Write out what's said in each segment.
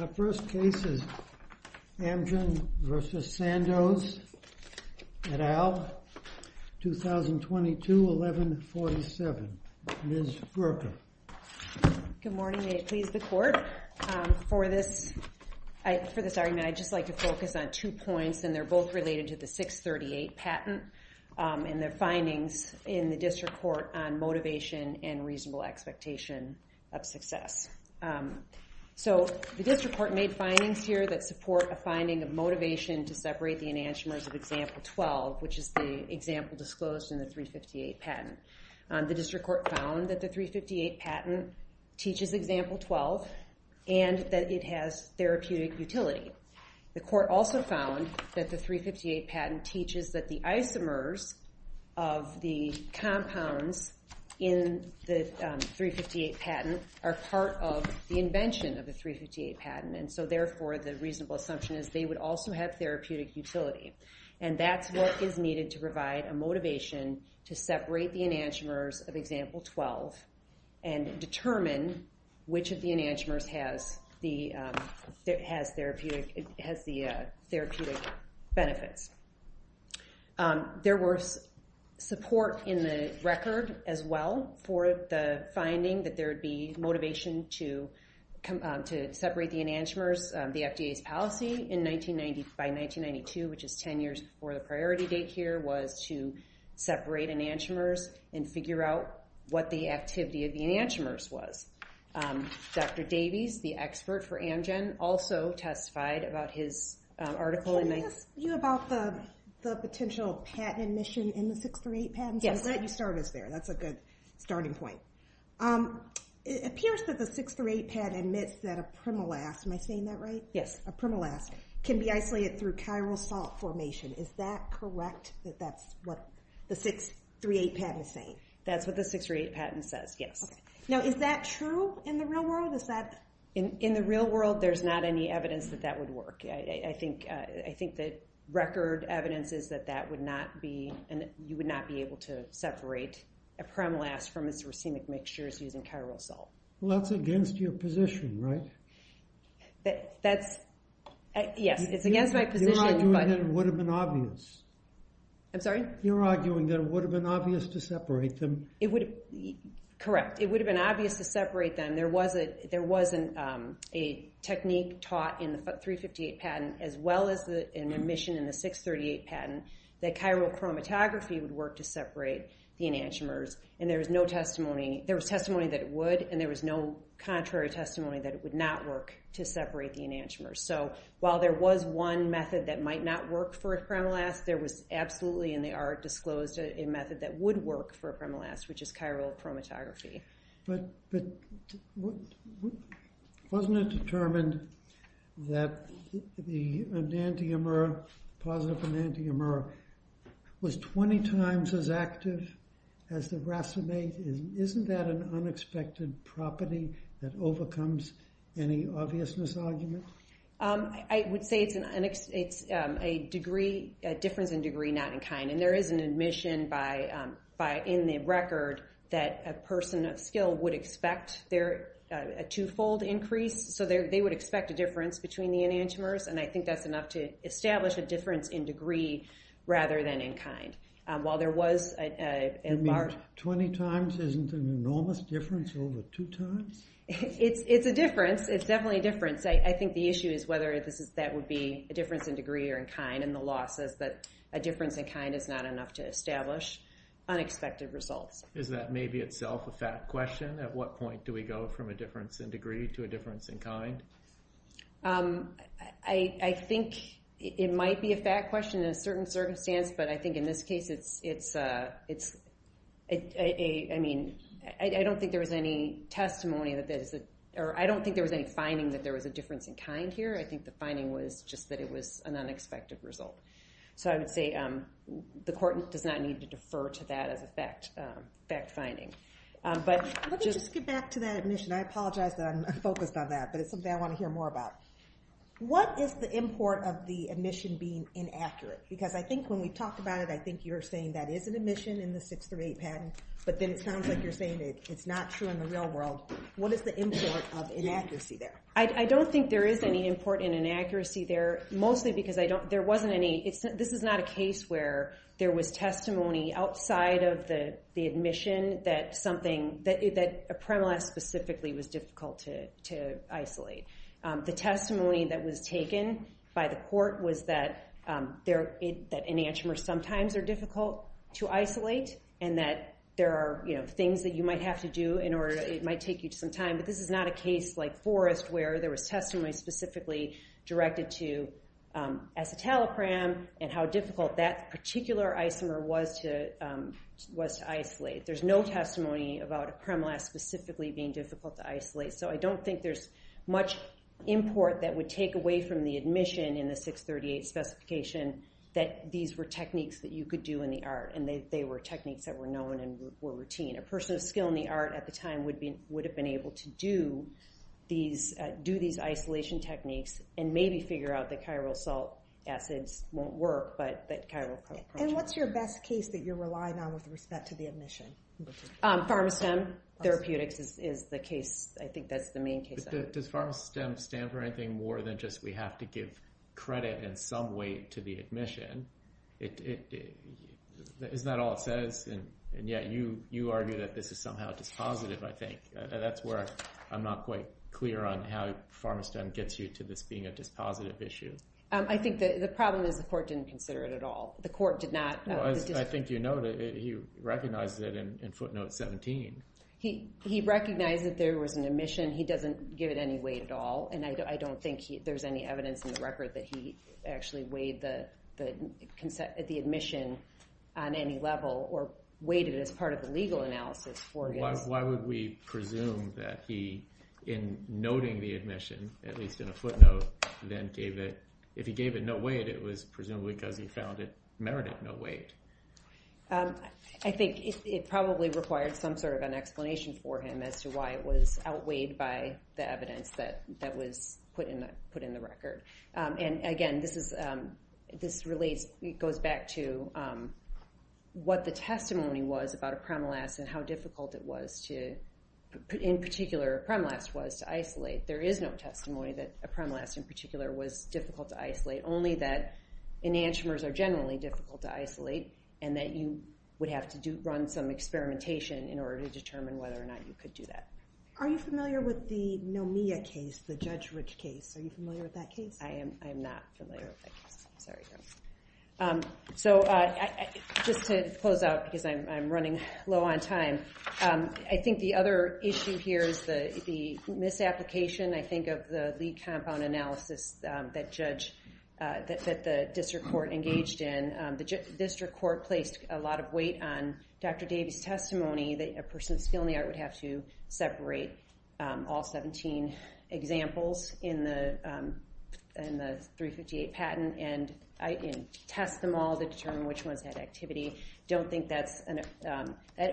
Our first case is Amgen v. Sandoz et al. 2022-11-47. Ms. Berger. Good morning. May it please the Court. For this argument, I'd just like to focus on two points, and they're both related to the 638 patent and the findings in the District Court on motivation and reasonable expectation of success. So, the District Court made findings here that support a finding of motivation to separate the enantiomers of Example 12, which is the example disclosed in the 358 patent. The District Court found that the 358 patent teaches Example 12 and that it has therapeutic utility. The Court also found that the 358 patent teaches that the isomers of the compounds in the 358 patent are part of the invention of the 358 patent. And so, therefore, the reasonable assumption is they would also have therapeutic utility. And that's what is needed to provide a motivation to separate the enantiomers of Example 12 and determine which of the enantiomers has the therapeutic benefits. There was support in the record as well for the finding that there would be motivation to separate the enantiomers. The FDA's policy by 1992, which is 10 years before the priority date here, was to separate enantiomers and figure out what the activity of the enantiomers was. Dr. Davies, the expert for Amgen, also testified about his article in the... Can I ask you about the potential patent admission in the 638 patent? Yes. I'll let you start us there. That's a good starting point. It appears that the 638 patent admits that a primolas, am I saying that right? Yes. A primolas can be isolated through chiral salt formation. Is that correct, that that's what the 638 patent is saying? That's what the 638 patent says, yes. Okay. Now, is that true in the real world? Is that... In the real world, there's not any evidence that that would work. I think the record evidence is that you would not be able to separate a primolas from its racemic mixtures using chiral salt. Well, that's against your position, right? That's... Yes, it's against my position, but... You're arguing that it would have been obvious. I'm sorry? You're arguing that it would have been obvious to separate them. Correct. It would have been obvious to separate them. There was a technique taught in the 358 patent, as well as an admission in the 638 patent, that chiral chromatography would work to separate the enantiomers. And there was no testimony... There was testimony that it would, and there was no contrary testimony that it would not work to separate the enantiomers. So, while there was one method that might not work for a primolas, there was absolutely, and they are disclosed, a method that would work for a primolas, which is chiral chromatography. But wasn't it determined that the enantiomer, positive enantiomer, was 20 times as active as the racemate? Isn't that an unexpected property that overcomes any obviousness argument? I would say it's a difference in degree, not in kind. And there is an admission in the record that a person of skill would expect a two-fold increase. So, they would expect a difference between the enantiomers, and I think that's enough to establish a difference in degree rather than in kind. While there was a large... You mean 20 times isn't an enormous difference over two times? It's a difference. It's definitely a difference. I think the issue is whether that would be a difference in degree or in kind, and the law says that a difference in kind is not enough to establish unexpected results. Is that maybe itself a fact question? At what point do we go from a difference in degree to a difference in kind? I think it might be a fact question in a certain circumstance, but I think in this case, I don't think there was any finding that there was a difference in kind here. I think the finding was just that it was an unexpected result. So, I would say the court does not need to defer to that as a fact finding. Let me just get back to that admission. I apologize that I'm unfocused on that, but it's something I want to hear more about. What is the import of the admission being inaccurate? Because I think when we talked about it, I think you were saying that is an admission in the 638 patent, but then it sounds like you're saying it's not true in the real world. What is the import of inaccuracy there? I don't think there is any import in inaccuracy there, mostly because there wasn't any... There was testimony outside of the admission that a Premalaz specifically was difficult to isolate. The testimony that was taken by the court was that enantiomers sometimes are difficult to isolate and that there are things that you might have to do in order... But this is not a case like Forrest where there was testimony specifically directed to acetalopram and how difficult that particular isomer was to isolate. There's no testimony about a Premalaz specifically being difficult to isolate. So, I don't think there's much import that would take away from the admission in the 638 specification that these were techniques that you could do in the art. And they were techniques that were known and were routine. A person of skill in the art at the time would have been able to do these isolation techniques and maybe figure out that chiral salt acids won't work, but chiral... And what's your best case that you're relying on with respect to the admission? Pharmastem, therapeutics is the case. I think that's the main case. Does Pharmastem stand for anything more than just we have to give credit in some way to the admission? Isn't that all it says? And yet you argue that this is somehow dispositive, I think. That's where I'm not quite clear on how Pharmastem gets you to this being a dispositive issue. I think the problem is the court didn't consider it at all. The court did not... I think you know that he recognized it in footnote 17. He recognized that there was an admission. He doesn't give it any weight at all. And I don't think there's any evidence in the record that he actually weighed the admission on any level or weighted it as part of the legal analysis. Why would we presume that he, in noting the admission, at least in a footnote, then gave it... If he gave it no weight, it was presumably because he found it merited no weight. I think it probably required some sort of an explanation for him as to why it was outweighed by the evidence that was put in the record. And again, this relates, it goes back to what the testimony was about a Premalast and how difficult it was to... In particular, Premalast was to isolate. There is no testimony that a Premalast in particular was difficult to isolate. Only that enantiomers are generally difficult to isolate and that you would have to run some experimentation in order to determine whether or not you could do that. Are you familiar with the Nomia case, the Judge Rich case? Are you familiar with that case? I am not familiar with that case. I'm sorry. So just to close out because I'm running low on time. I think the other issue here is the misapplication, I think, of the lead compound analysis that the district court engaged in. The district court placed a lot of weight on Dr. Davies' testimony that a person with a skill in the art would have to separate all 17 examples in the 358 patent and test them all to determine which ones had activity. I don't think that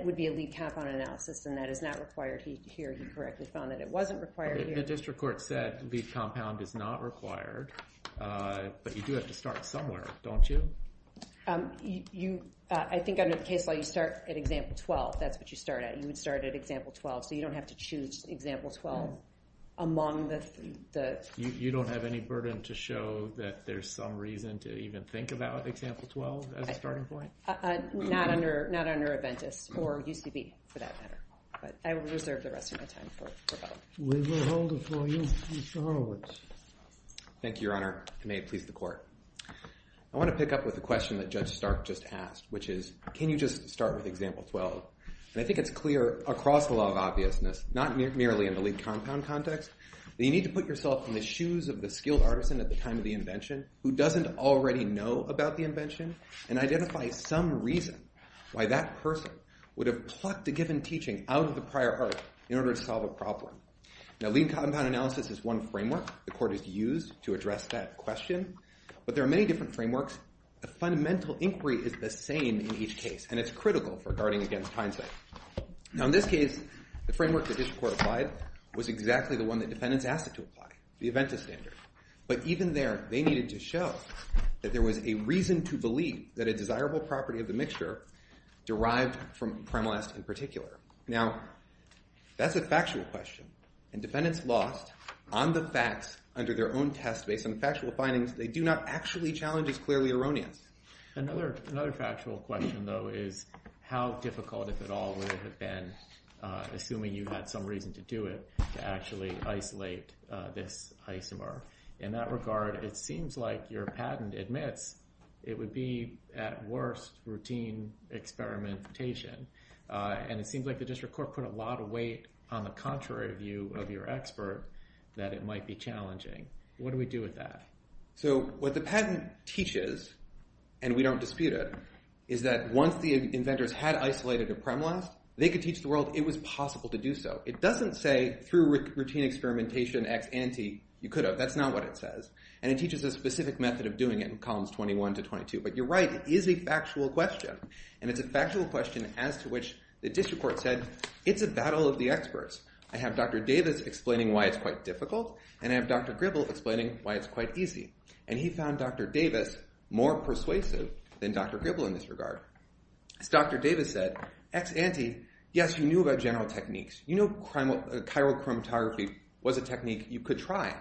would be a lead compound analysis and that is not required here. He correctly found that it wasn't required here. The district court said lead compound is not required, but you do have to start somewhere, don't you? I think under the case law, you start at example 12. That's what you start at. You would start at example 12, so you don't have to choose example 12 among the... You don't have any burden to show that there's some reason to even think about example 12 as a starting point? Not under Aventis or UCB for that matter, but I will reserve the rest of my time for both. We will hold it for you, Ms. Horowitz. Thank you, Your Honor. It may have pleased the court. I want to pick up with the question that Judge Stark just asked, which is, can you just start with example 12? I think it's clear across the law of obviousness, not merely in the lead compound context, that you need to put yourself in the shoes of the skilled artisan at the time of the invention who doesn't already know about the invention and identify some reason why that person would have plucked a given teaching out of the prior art in order to solve a problem. Now, lead compound analysis is one framework the court has used to address that question, but there are many different frameworks. A fundamental inquiry is the same in each case, and it's critical for guarding against hindsight. Now, in this case, the framework that this court applied was exactly the one that defendants asked it to apply, the Aventis standard. But even there, they needed to show that there was a reason to believe that a desirable property of the mixture derived from creme last in particular. Now, that's a factual question, and defendants lost on the facts under their own test. Based on the factual findings, they do not actually challenge this clearly erroneous. Another factual question, though, is how difficult, if at all, would it have been, assuming you had some reason to do it, to actually isolate this isomer. In that regard, it seems like your patent admits it would be, at worst, routine experimentation, and it seems like the district court put a lot of weight on the contrary view of your expert that it might be challenging. What do we do with that? So what the patent teaches, and we don't dispute it, is that once the inventors had isolated a creme last, they could teach the world it was possible to do so. It doesn't say through routine experimentation, ex ante, you could have. That's not what it says, and it teaches a specific method of doing it in columns 21 to 22. But you're right. It is a factual question, and it's a factual question as to which the district court said, It's a battle of the experts. I have Dr. Davis explaining why it's quite difficult, and I have Dr. Gribble explaining why it's quite easy, and he found Dr. Davis more persuasive than Dr. Gribble in this regard. As Dr. Davis said, ex ante, yes, you knew about general techniques. You know chiral chromatography was a technique you could try.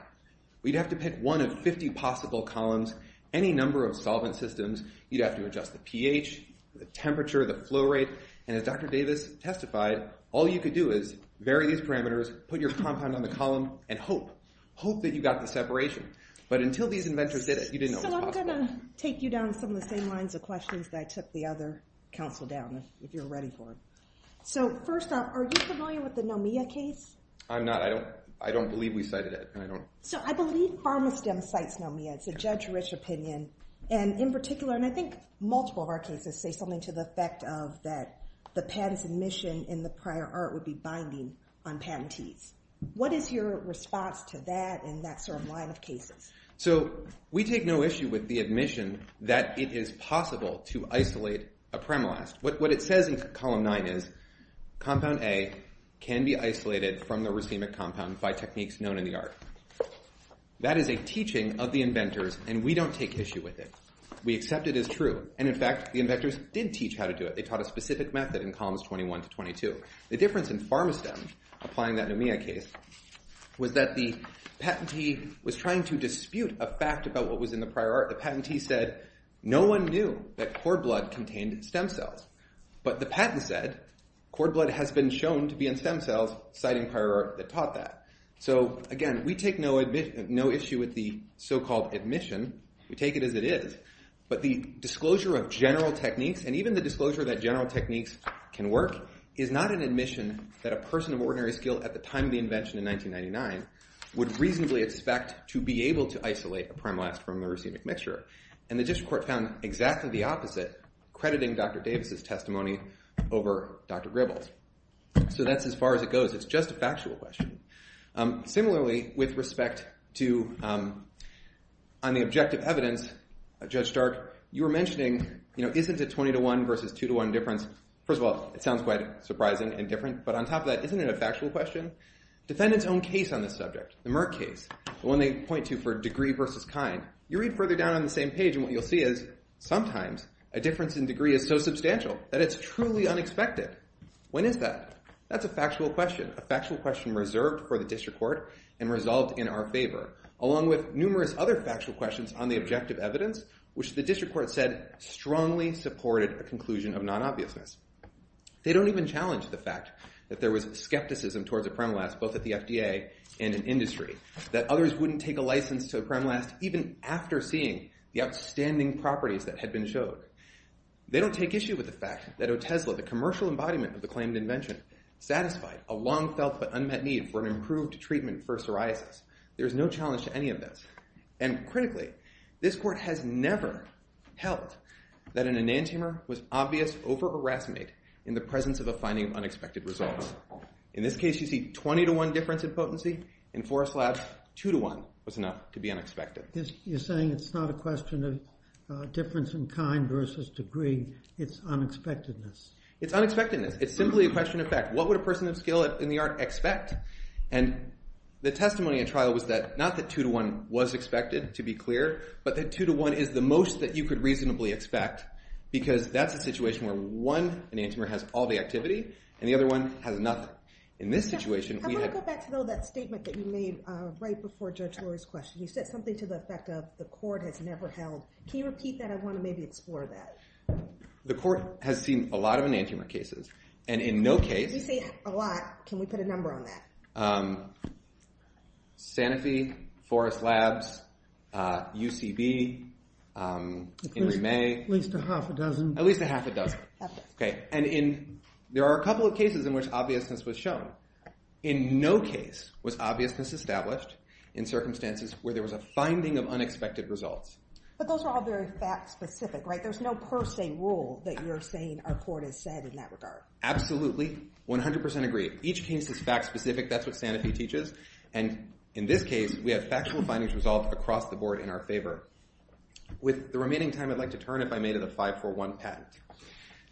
We'd have to pick one of 50 possible columns, any number of solvent systems. You'd have to adjust the pH, the temperature, the flow rate, and as Dr. Davis testified, all you could do is vary these parameters, put your compound on the column, and hope. Hope that you got the separation. But until these inventors did it, you didn't know it was possible. So I'm going to take you down some of the same lines of questions that I took the other counsel down, if you're ready for them. So first off, are you familiar with the Nomia case? I'm not. I don't believe we cited it. So I believe Pharmastem cites Nomia. It's a judge-rich opinion, and in particular, and I think multiple of our cases say something to the effect of that the patent's admission in the prior art would be binding on patentees. What is your response to that and that sort of line of cases? So we take no issue with the admission that it is possible to isolate a premolast. What it says in column 9 is compound A can be isolated from the racemic compound by techniques known in the art. That is a teaching of the inventors, and we don't take issue with it. We accept it as true, and in fact, the inventors did teach how to do it. They taught a specific method in columns 21 to 22. The difference in Pharmastem applying that Nomia case was that the patentee was trying to dispute a fact about what was in the prior art. The patentee said no one knew that cord blood contained stem cells, but the patent said cord blood has been shown to be in stem cells, citing prior art that taught that. So again, we take no issue with the so-called admission. We take it as it is, but the disclosure of general techniques and even the disclosure that general techniques can work is not an admission that a person of ordinary skill at the time of the invention in 1999 would reasonably expect to be able to isolate a premolast from a racemic mixture. And the district court found exactly the opposite, crediting Dr. Davis' testimony over Dr. Gribble's. So that's as far as it goes. It's just a factual question. Similarly, with respect to the objective evidence, Judge Stark, you were mentioning isn't a 20 to 1 versus 2 to 1 difference, first of all, it sounds quite surprising and different, but on top of that, isn't it a factual question? Defendant's own case on this subject, the Merck case, the one they point to for degree versus kind, you read further down on the same page and what you'll see is sometimes a difference in degree is so substantial that it's truly unexpected. When is that? That's a factual question, a factual question reserved for the district court and resolved in our favor, along with numerous other factual questions on the objective evidence, which the district court said strongly supported a conclusion of non-obviousness. They don't even challenge the fact that there was skepticism towards a premolast, both at the FDA and in industry, that others wouldn't take a license to a premolast even after seeing the outstanding properties that had been showed. They don't take issue with the fact that Otesla, the commercial embodiment of the claimed invention, satisfied a long-felt but unmet need for an improved treatment for psoriasis. There is no challenge to any of this. And critically, this court has never held that an enantiomer was obvious over a racemate in the presence of a finding of unexpected results. In this case, you see 20 to 1 difference in potency. In Forrest Lab's, 2 to 1 was enough to be unexpected. You're saying it's not a question of difference in kind versus degree, it's unexpectedness. It's unexpectedness. It's simply a question of fact. What would a person of skill in the art expect? And the testimony in trial was that, not that 2 to 1 was expected, to be clear, but that 2 to 1 is the most that you could reasonably expect because that's a situation where one enantiomer has all the activity and the other one has nothing. In this situation, we had... I want to go back to that statement that you made right before Judge Lurie's question. You said something to the effect of, the court has never held. Can you repeat that? I want to maybe explore that. The court has seen a lot of enantiomer cases, and in no case... You say a lot. Can we put a number on that? Sanofi, Forrest Lab's, UCB, Henry May. At least a half a dozen. At least a half a dozen. Okay. And there are a couple of cases in which obviousness was shown. In no case was obviousness established in circumstances where there was a finding of unexpected results. But those are all very fact-specific, right? There's no per se rule that you're saying our court has said in that regard. Absolutely. 100% agree. Each case is fact-specific. That's what Sanofi teaches. And in this case, we have factual findings resolved across the board in our favor. With the remaining time, I'd like to turn, if I may, to the 541 patent.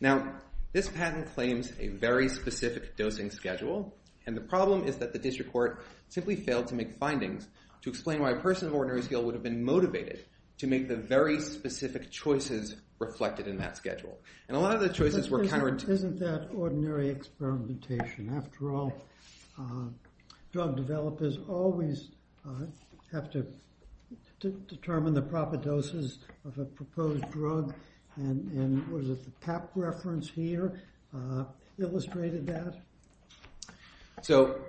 Now, this patent claims a very specific dosing schedule, and the problem is that the district court simply failed to make findings to explain why a person of ordinary skill would have been motivated to make the very specific choices reflected in that schedule. And a lot of the choices were counterintuitive. Isn't that ordinary experimentation? After all, drug developers always have to determine the proper doses of a proposed drug, and was it the pap reference here illustrated that? So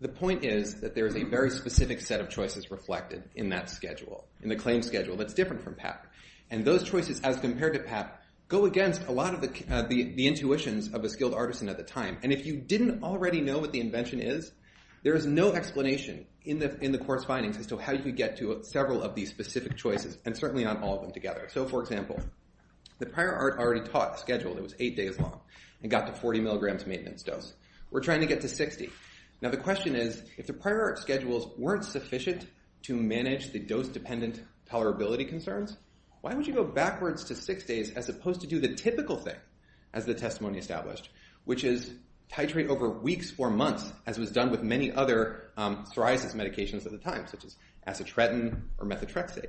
the point is that there is a very specific set of choices reflected in that schedule, in the claim schedule, that's different from pap. And those choices, as compared to pap, go against a lot of the intuitions of a skilled artisan at the time. And if you didn't already know what the invention is, there is no explanation in the court's findings as to how you get to several of these specific choices, and certainly not all of them together. So, for example, the prior art already taught a schedule that was eight days long and got to 40 milligrams maintenance dose. We're trying to get to 60. Now, the question is, if the prior art schedules weren't sufficient to manage the dose-dependent tolerability concerns, why would you go backwards to six days as opposed to do the typical thing, as the testimony established, which is titrate over weeks or months, as was done with many other psoriasis medications at the time, such as acetretin or methotrexate?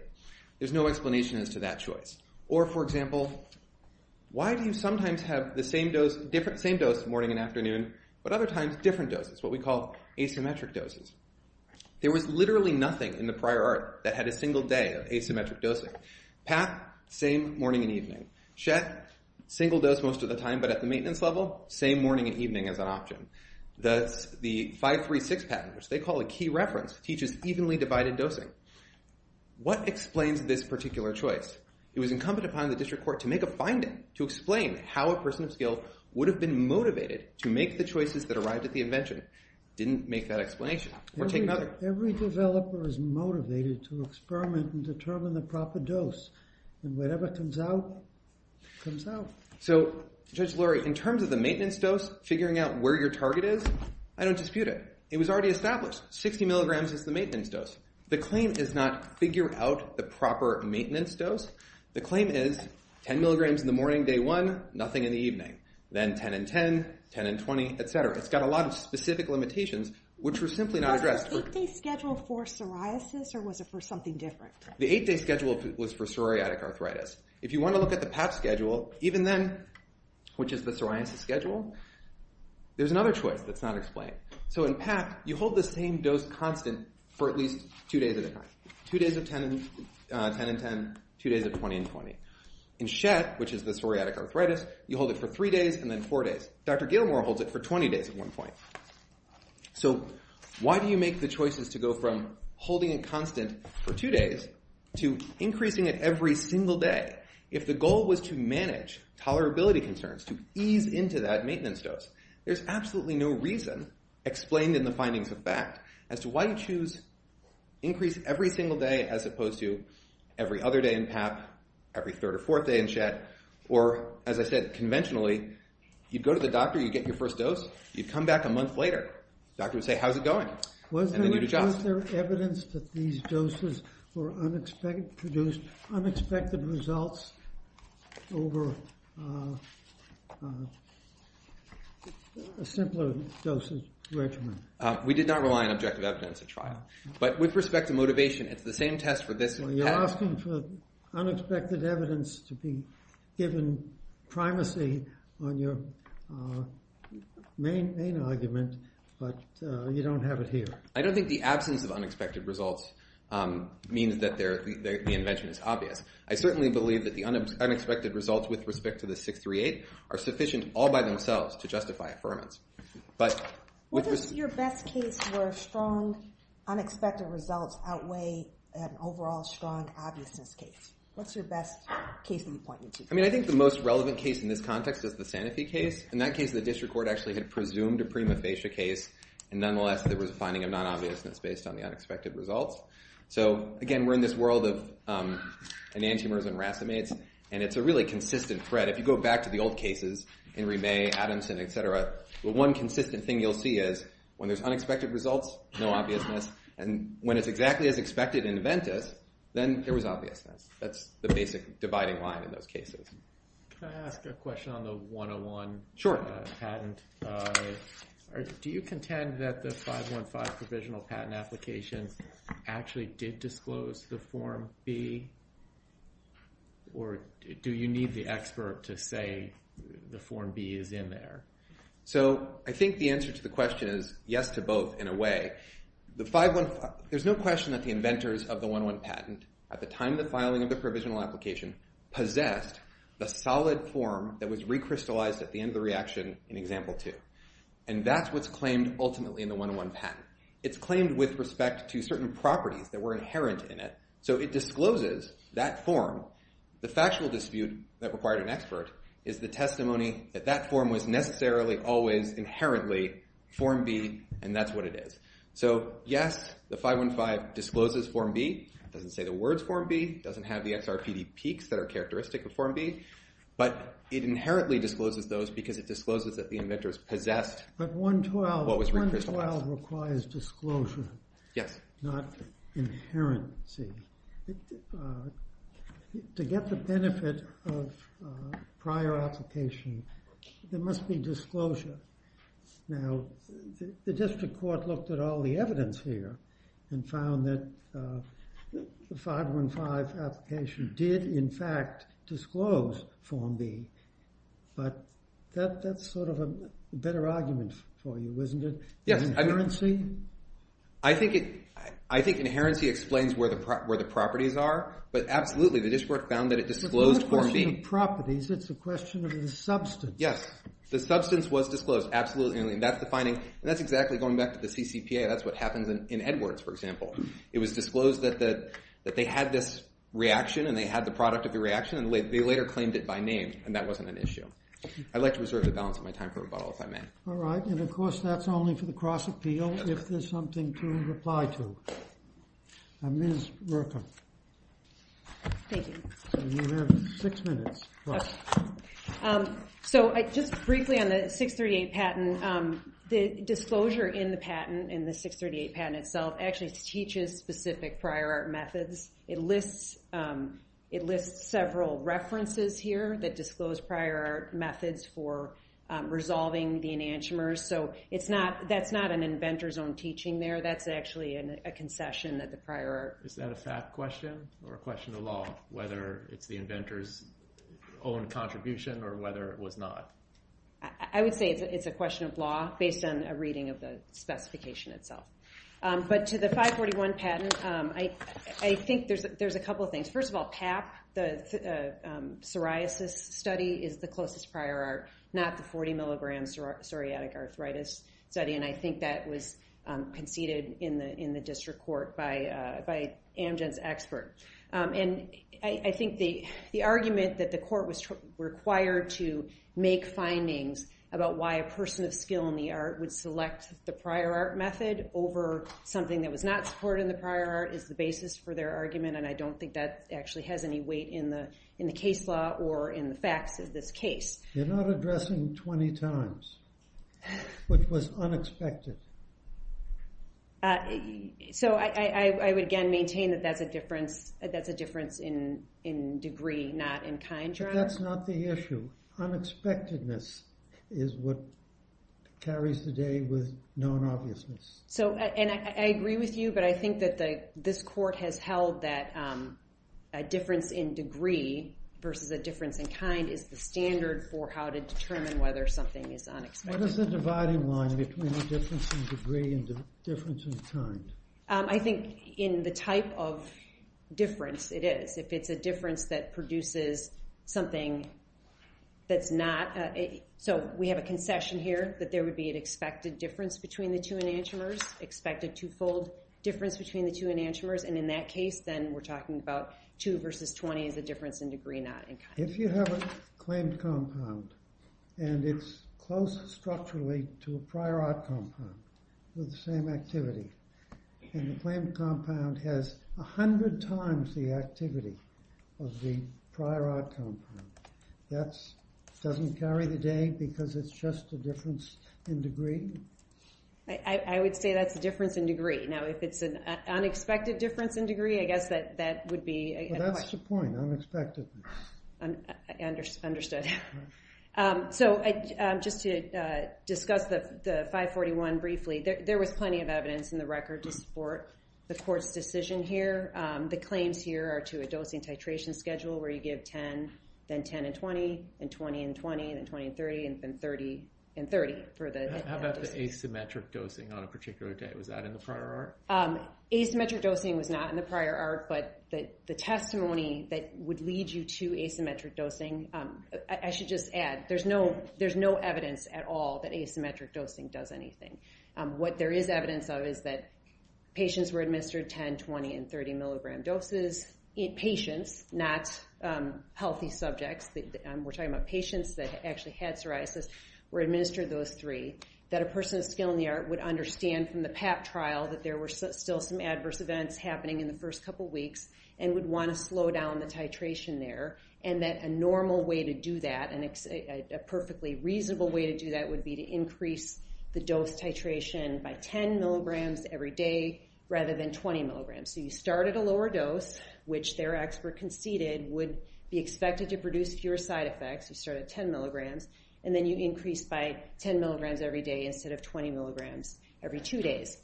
There's no explanation as to that choice. Or, for example, why do you sometimes have the same dose morning and afternoon, but other times different doses, what we call asymmetric doses? There was literally nothing in the prior art that had a single day of asymmetric dosing. Pat, same morning and evening. Chet, single dose most of the time, but at the maintenance level, same morning and evening as an option. The 5-3-6 pattern, which they call a key reference, teaches evenly divided dosing. What explains this particular choice? It was incumbent upon the district court to make a finding to explain how a person of skill would have been motivated to make the choices that arrived at the invention. Didn't make that explanation. Or take another. Every developer is motivated to experiment and determine the proper dose. And whatever comes out, comes out. So, Judge Lurie, in terms of the maintenance dose, figuring out where your target is, I don't dispute it. It was already established. 60 milligrams is the maintenance dose. The claim is not figure out the proper maintenance dose. The claim is 10 milligrams in the morning, day one, nothing in the evening. Then 10 and 10, 10 and 20, et cetera. It's got a lot of specific limitations, which were simply not addressed. Was the 8-day schedule for psoriasis, or was it for something different? The 8-day schedule was for psoriatic arthritis. If you want to look at the PAP schedule, even then, which is the psoriasis schedule, there's another choice that's not explained. So in PAP, you hold the same dose constant for at least two days at a time. Two days of 10 and 10, two days of 20 and 20. In SHET, which is the psoriatic arthritis, you hold it for three days and then four days. Dr. Gilmour holds it for 20 days at one point. So why do you make the choices to go from holding it constant for two days to increasing it every single day if the goal was to manage tolerability concerns, to ease into that maintenance dose? There's absolutely no reason, explained in the findings of FACT, as to why you choose increase every single day as opposed to every other day in PAP, every third or fourth day in SHET, or, as I said, conventionally, you'd go to the doctor, you'd get your first dose, you'd come back a month later, doctor would say, how's it going? And then you'd adjust. Was there evidence that these doses produced unexpected results over a simpler dose regimen? We did not rely on objective evidence at trial. But with respect to motivation, it's the same test for this and PAP. You're asking for unexpected evidence to be given primacy on your main argument, but you don't have it here. I don't think the absence of unexpected results means that the invention is obvious. I certainly believe that the unexpected results with respect to the 638 are sufficient all by themselves to justify affirmance. What is your best case where strong unexpected results outweigh an overall strong obviousness case? I think the most relevant case in this context is the Sanofi case. In that case, the district court actually had presumed a prima facie case, and nonetheless, there was a finding of non-obviousness based on the unexpected results. So again, we're in this world of enantiomers and racemates, and it's a really consistent thread. If you go back to the old cases, Henry May, Adamson, et cetera, the one consistent thing you'll see is when there's unexpected results, no obviousness, and when it's exactly as expected in Aventis, then there was obviousness. That's the basic dividing line in those cases. Can I ask a question on the 101 patent? Sure. Do you contend that the 515 provisional patent application actually did disclose the Form B, or do you need the expert to say the Form B is in there? So I think the answer to the question is yes to both in a way. There's no question that the inventors of the 101 patent at the time of the filing of the provisional application possessed the solid form that was recrystallized at the end of the reaction in Example 2, and that's what's claimed ultimately in the 101 patent. It's claimed with respect to certain properties that were inherent in it, so it discloses that form. The factual dispute that required an expert is the testimony that that form was necessarily always inherently Form B, and that's what it is. So yes, the 515 discloses Form B. It doesn't say the words Form B. It doesn't have the XRPD peaks that are characteristic of Form B, but it inherently discloses those because it discloses that the inventors possessed what was recrystallized. But 112 requires disclosure, not inherency. To get the benefit of prior application, there must be disclosure. Now, the district court looked at all the evidence here and found that the 515 application did in fact disclose Form B, but that's sort of a better argument for you, isn't it? Yes. Inherency? I think inherency explains where the properties are, but absolutely the district court found that it disclosed Form B. It's not a question of properties. It's a question of the substance. Yes. The substance was disclosed. Absolutely. And that's the finding. And that's exactly, going back to the CCPA, that's what happens in Edwards, for example. It was disclosed that they had this reaction and they had the product of the reaction, and they later claimed it by name, and that wasn't an issue. I'd like to reserve the balance of my time for rebuttal, if I may. All right. And of course, that's only for the cross-appeal if there's something to reply to. Ms. Murka. Thank you. You have six minutes. So just briefly on the 638 patent, the disclosure in the patent, in the 638 patent itself, actually teaches specific prior art methods. It lists several references here that disclose prior art methods for resolving the enantiomers. So that's not an inventor's own teaching there. That's actually a concession that the prior art... Is that a fact question or a question of law, whether it's the inventor's own contribution or whether it was not? I would say it's a question of law based on a reading of the specification itself. But to the 541 patent, I think there's a couple of things. First of all, PAP, the psoriasis study, is the closest prior art, not the 40-milligram psoriatic arthritis study, and I think that was conceded in the district court by Amgen's expert. And I think the argument that the court was required to make findings about why a person of skill in the art would select the prior art method over something that was not supported in the prior art is the basis for their argument, and I don't think that actually has any weight in the case law or in the facts of this case. You're not addressing 20 times, which was unexpected. So I would, again, maintain that that's a difference in degree, not in kind, John. But that's not the issue. Unexpectedness is what carries the day with non-obviousness. So, and I agree with you, but I think that this court has held that a difference in degree versus a difference in kind is the standard for how to determine whether something is unexpected. What is the dividing line between a difference in degree and a difference in kind? I think in the type of difference it is. If it's a difference that produces something that's not, so we have a concession here that there would be an expected difference between the two enantiomers, expected two-fold difference between the two enantiomers, and in that case, then we're talking about two versus 20 is a difference in degree, not in kind. If you have a claimed compound and it's close structurally to a prior art compound with the same activity, and the claimed compound has 100 times the activity of the prior art compound, that doesn't carry the day because it's just a difference in degree? I would say that's a difference in degree. Now, if it's an unexpected difference in degree, I guess that would be a point. Well, that's the point, unexpectedness. Understood. So just to discuss the 541 briefly, there was plenty of evidence in the record to support the court's decision here. The claims here are to a dosing titration schedule where you give 10, then 10 and 20, then 20 and 20, then 20 and 30, and then 30 and 30 for the... How about the asymmetric dosing on a particular day? Was that in the prior art? Asymmetric dosing was not in the prior art, but the testimony that would lead you to asymmetric dosing I should just add, there's no evidence at all that asymmetric dosing does anything. What there is evidence of is that patients were administered 10, 20, and 30 milligram doses. Patients, not healthy subjects, we're talking about patients that actually had psoriasis, were administered those three, that a person of skill in the art would understand from the PAP trial that there were still some adverse events happening in the first couple weeks and would want to slow down the titration there, and that a normal way to do that, a perfectly reasonable way to do that would be to increase the dose titration by 10 milligrams every day rather than 20 milligrams. So you start at a lower dose, which their expert conceded would be expected to produce fewer side effects. You start at 10 milligrams, and then you increase by 10 milligrams every day instead of 20 milligrams every two days.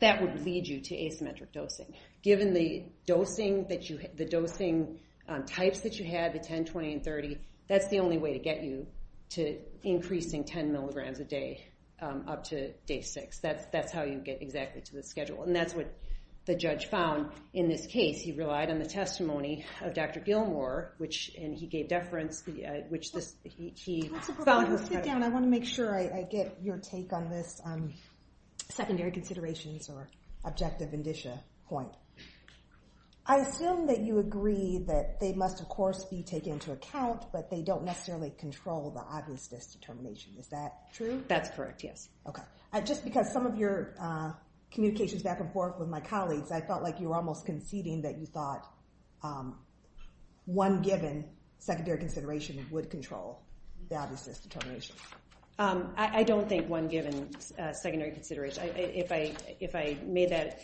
That would lead you to asymmetric dosing. Given the dosing types that you had, the 10, 20, and 30, that's the only way to get you to increasing 10 milligrams a day up to day six. That's how you get exactly to the schedule. And that's what the judge found in this case. He relied on the testimony of Dr. Gilmour, and he gave deference, which he found... I want to make sure I get your take on this secondary considerations or objective indicia point. I assume that you agree that they must, of course, be taken into account, but they don't necessarily control the obviousness determination. Is that true? That's correct, yes. Just because some of your communications back and forth with my colleagues, I felt like you were almost conceding that you thought one given secondary consideration would control the obviousness determination. I don't think one given secondary consideration. If I made that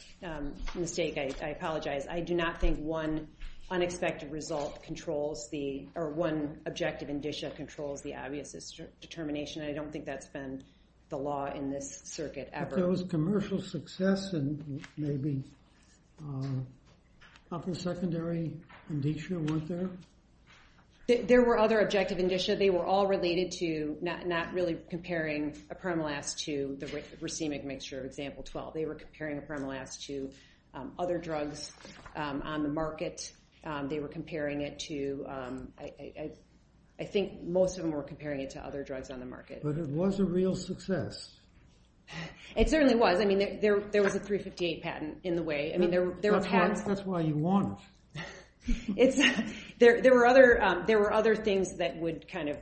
mistake, I apologize. I do not think one unexpected result controls the... or one objective indicia controls the obviousness determination. I don't think that's been the law in this circuit ever. But there was commercial success and maybe a couple of secondary indicia weren't there? There were other objective indicia. They were all related to not really comparing a primal ass to the racemic mixture of example 12. They were comparing a primal ass to other drugs on the market. They were comparing it to... I think most of them were comparing it to other drugs on the market. But it was a real success. It certainly was. There was a 358 patent in the way. That's why you won it. There were other things that would kind of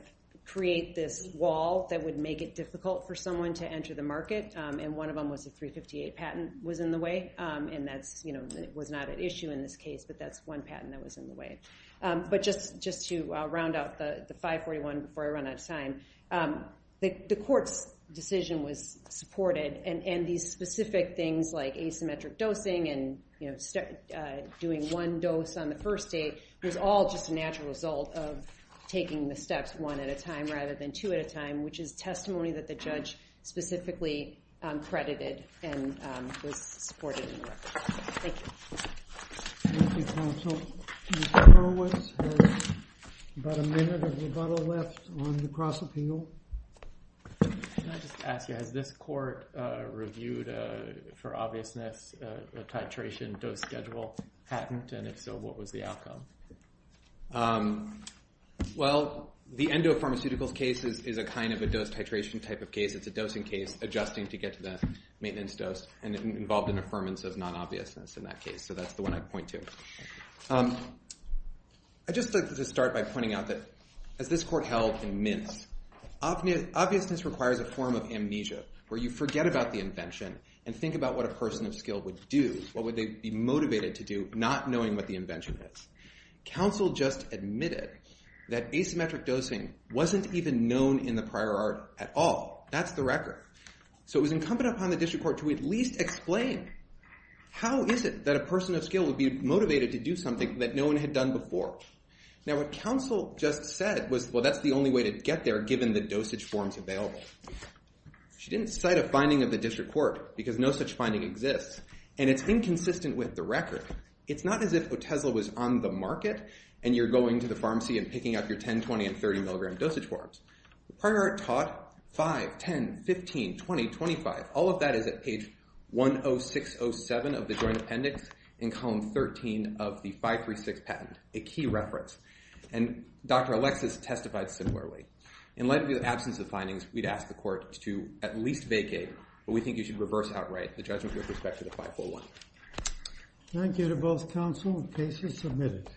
create this wall that would make it difficult for someone to enter the market. And one of them was the 358 patent was in the way. And that was not an issue in this case, but that's one patent that was in the way. But just to round out the 541 before I run out of time, the court's decision was supported. And these specific things like asymmetric dosing and doing one dose on the first date was all just a natural result of taking the steps one at a time which is testimony that the judge specifically credited and was supported in the record. Thank you. Thank you, counsel. Mr. Horowitz has about a minute of rebuttal left on the cross-appeal. Can I just ask you, has this court reviewed, for obviousness, a titration dose schedule patent? And if so, what was the outcome? Well, the endopharmaceuticals case is a kind of a dose titration type of case. It's a dosing case adjusting to get to the maintenance dose and involved an affirmance of non-obviousness in that case. So that's the one I'd point to. I'd just like to start by pointing out that as this court held in Mintz, obviousness requires a form of amnesia where you forget about the invention and think about what a person of skill would do, what would they be motivated to do, not knowing what the invention is. Counsel just admitted that asymmetric dosing wasn't even known in the prior art at all. That's the record. So it was incumbent upon the district court to at least explain how is it that a person of skill would be motivated to do something that no one had done before. Now, what counsel just said was, well, that's the only way to get there given the dosage forms available. She didn't cite a finding of the district court because no such finding exists, and it's inconsistent with the record. It's not as if Otesla was on the market and you're going to the pharmacy and picking up your 10, 20, and 30 milligram dosage forms. The prior art taught 5, 10, 15, 20, 25. All of that is at page 10607 of the joint appendix in column 13 of the 536 patent, a key reference. And Dr. Alexis testified similarly. In light of the absence of findings, we'd ask the court to at least vacate what we think you should reverse outright, the judgment with respect to the 501. Thank you to both counsel. The case is submitted.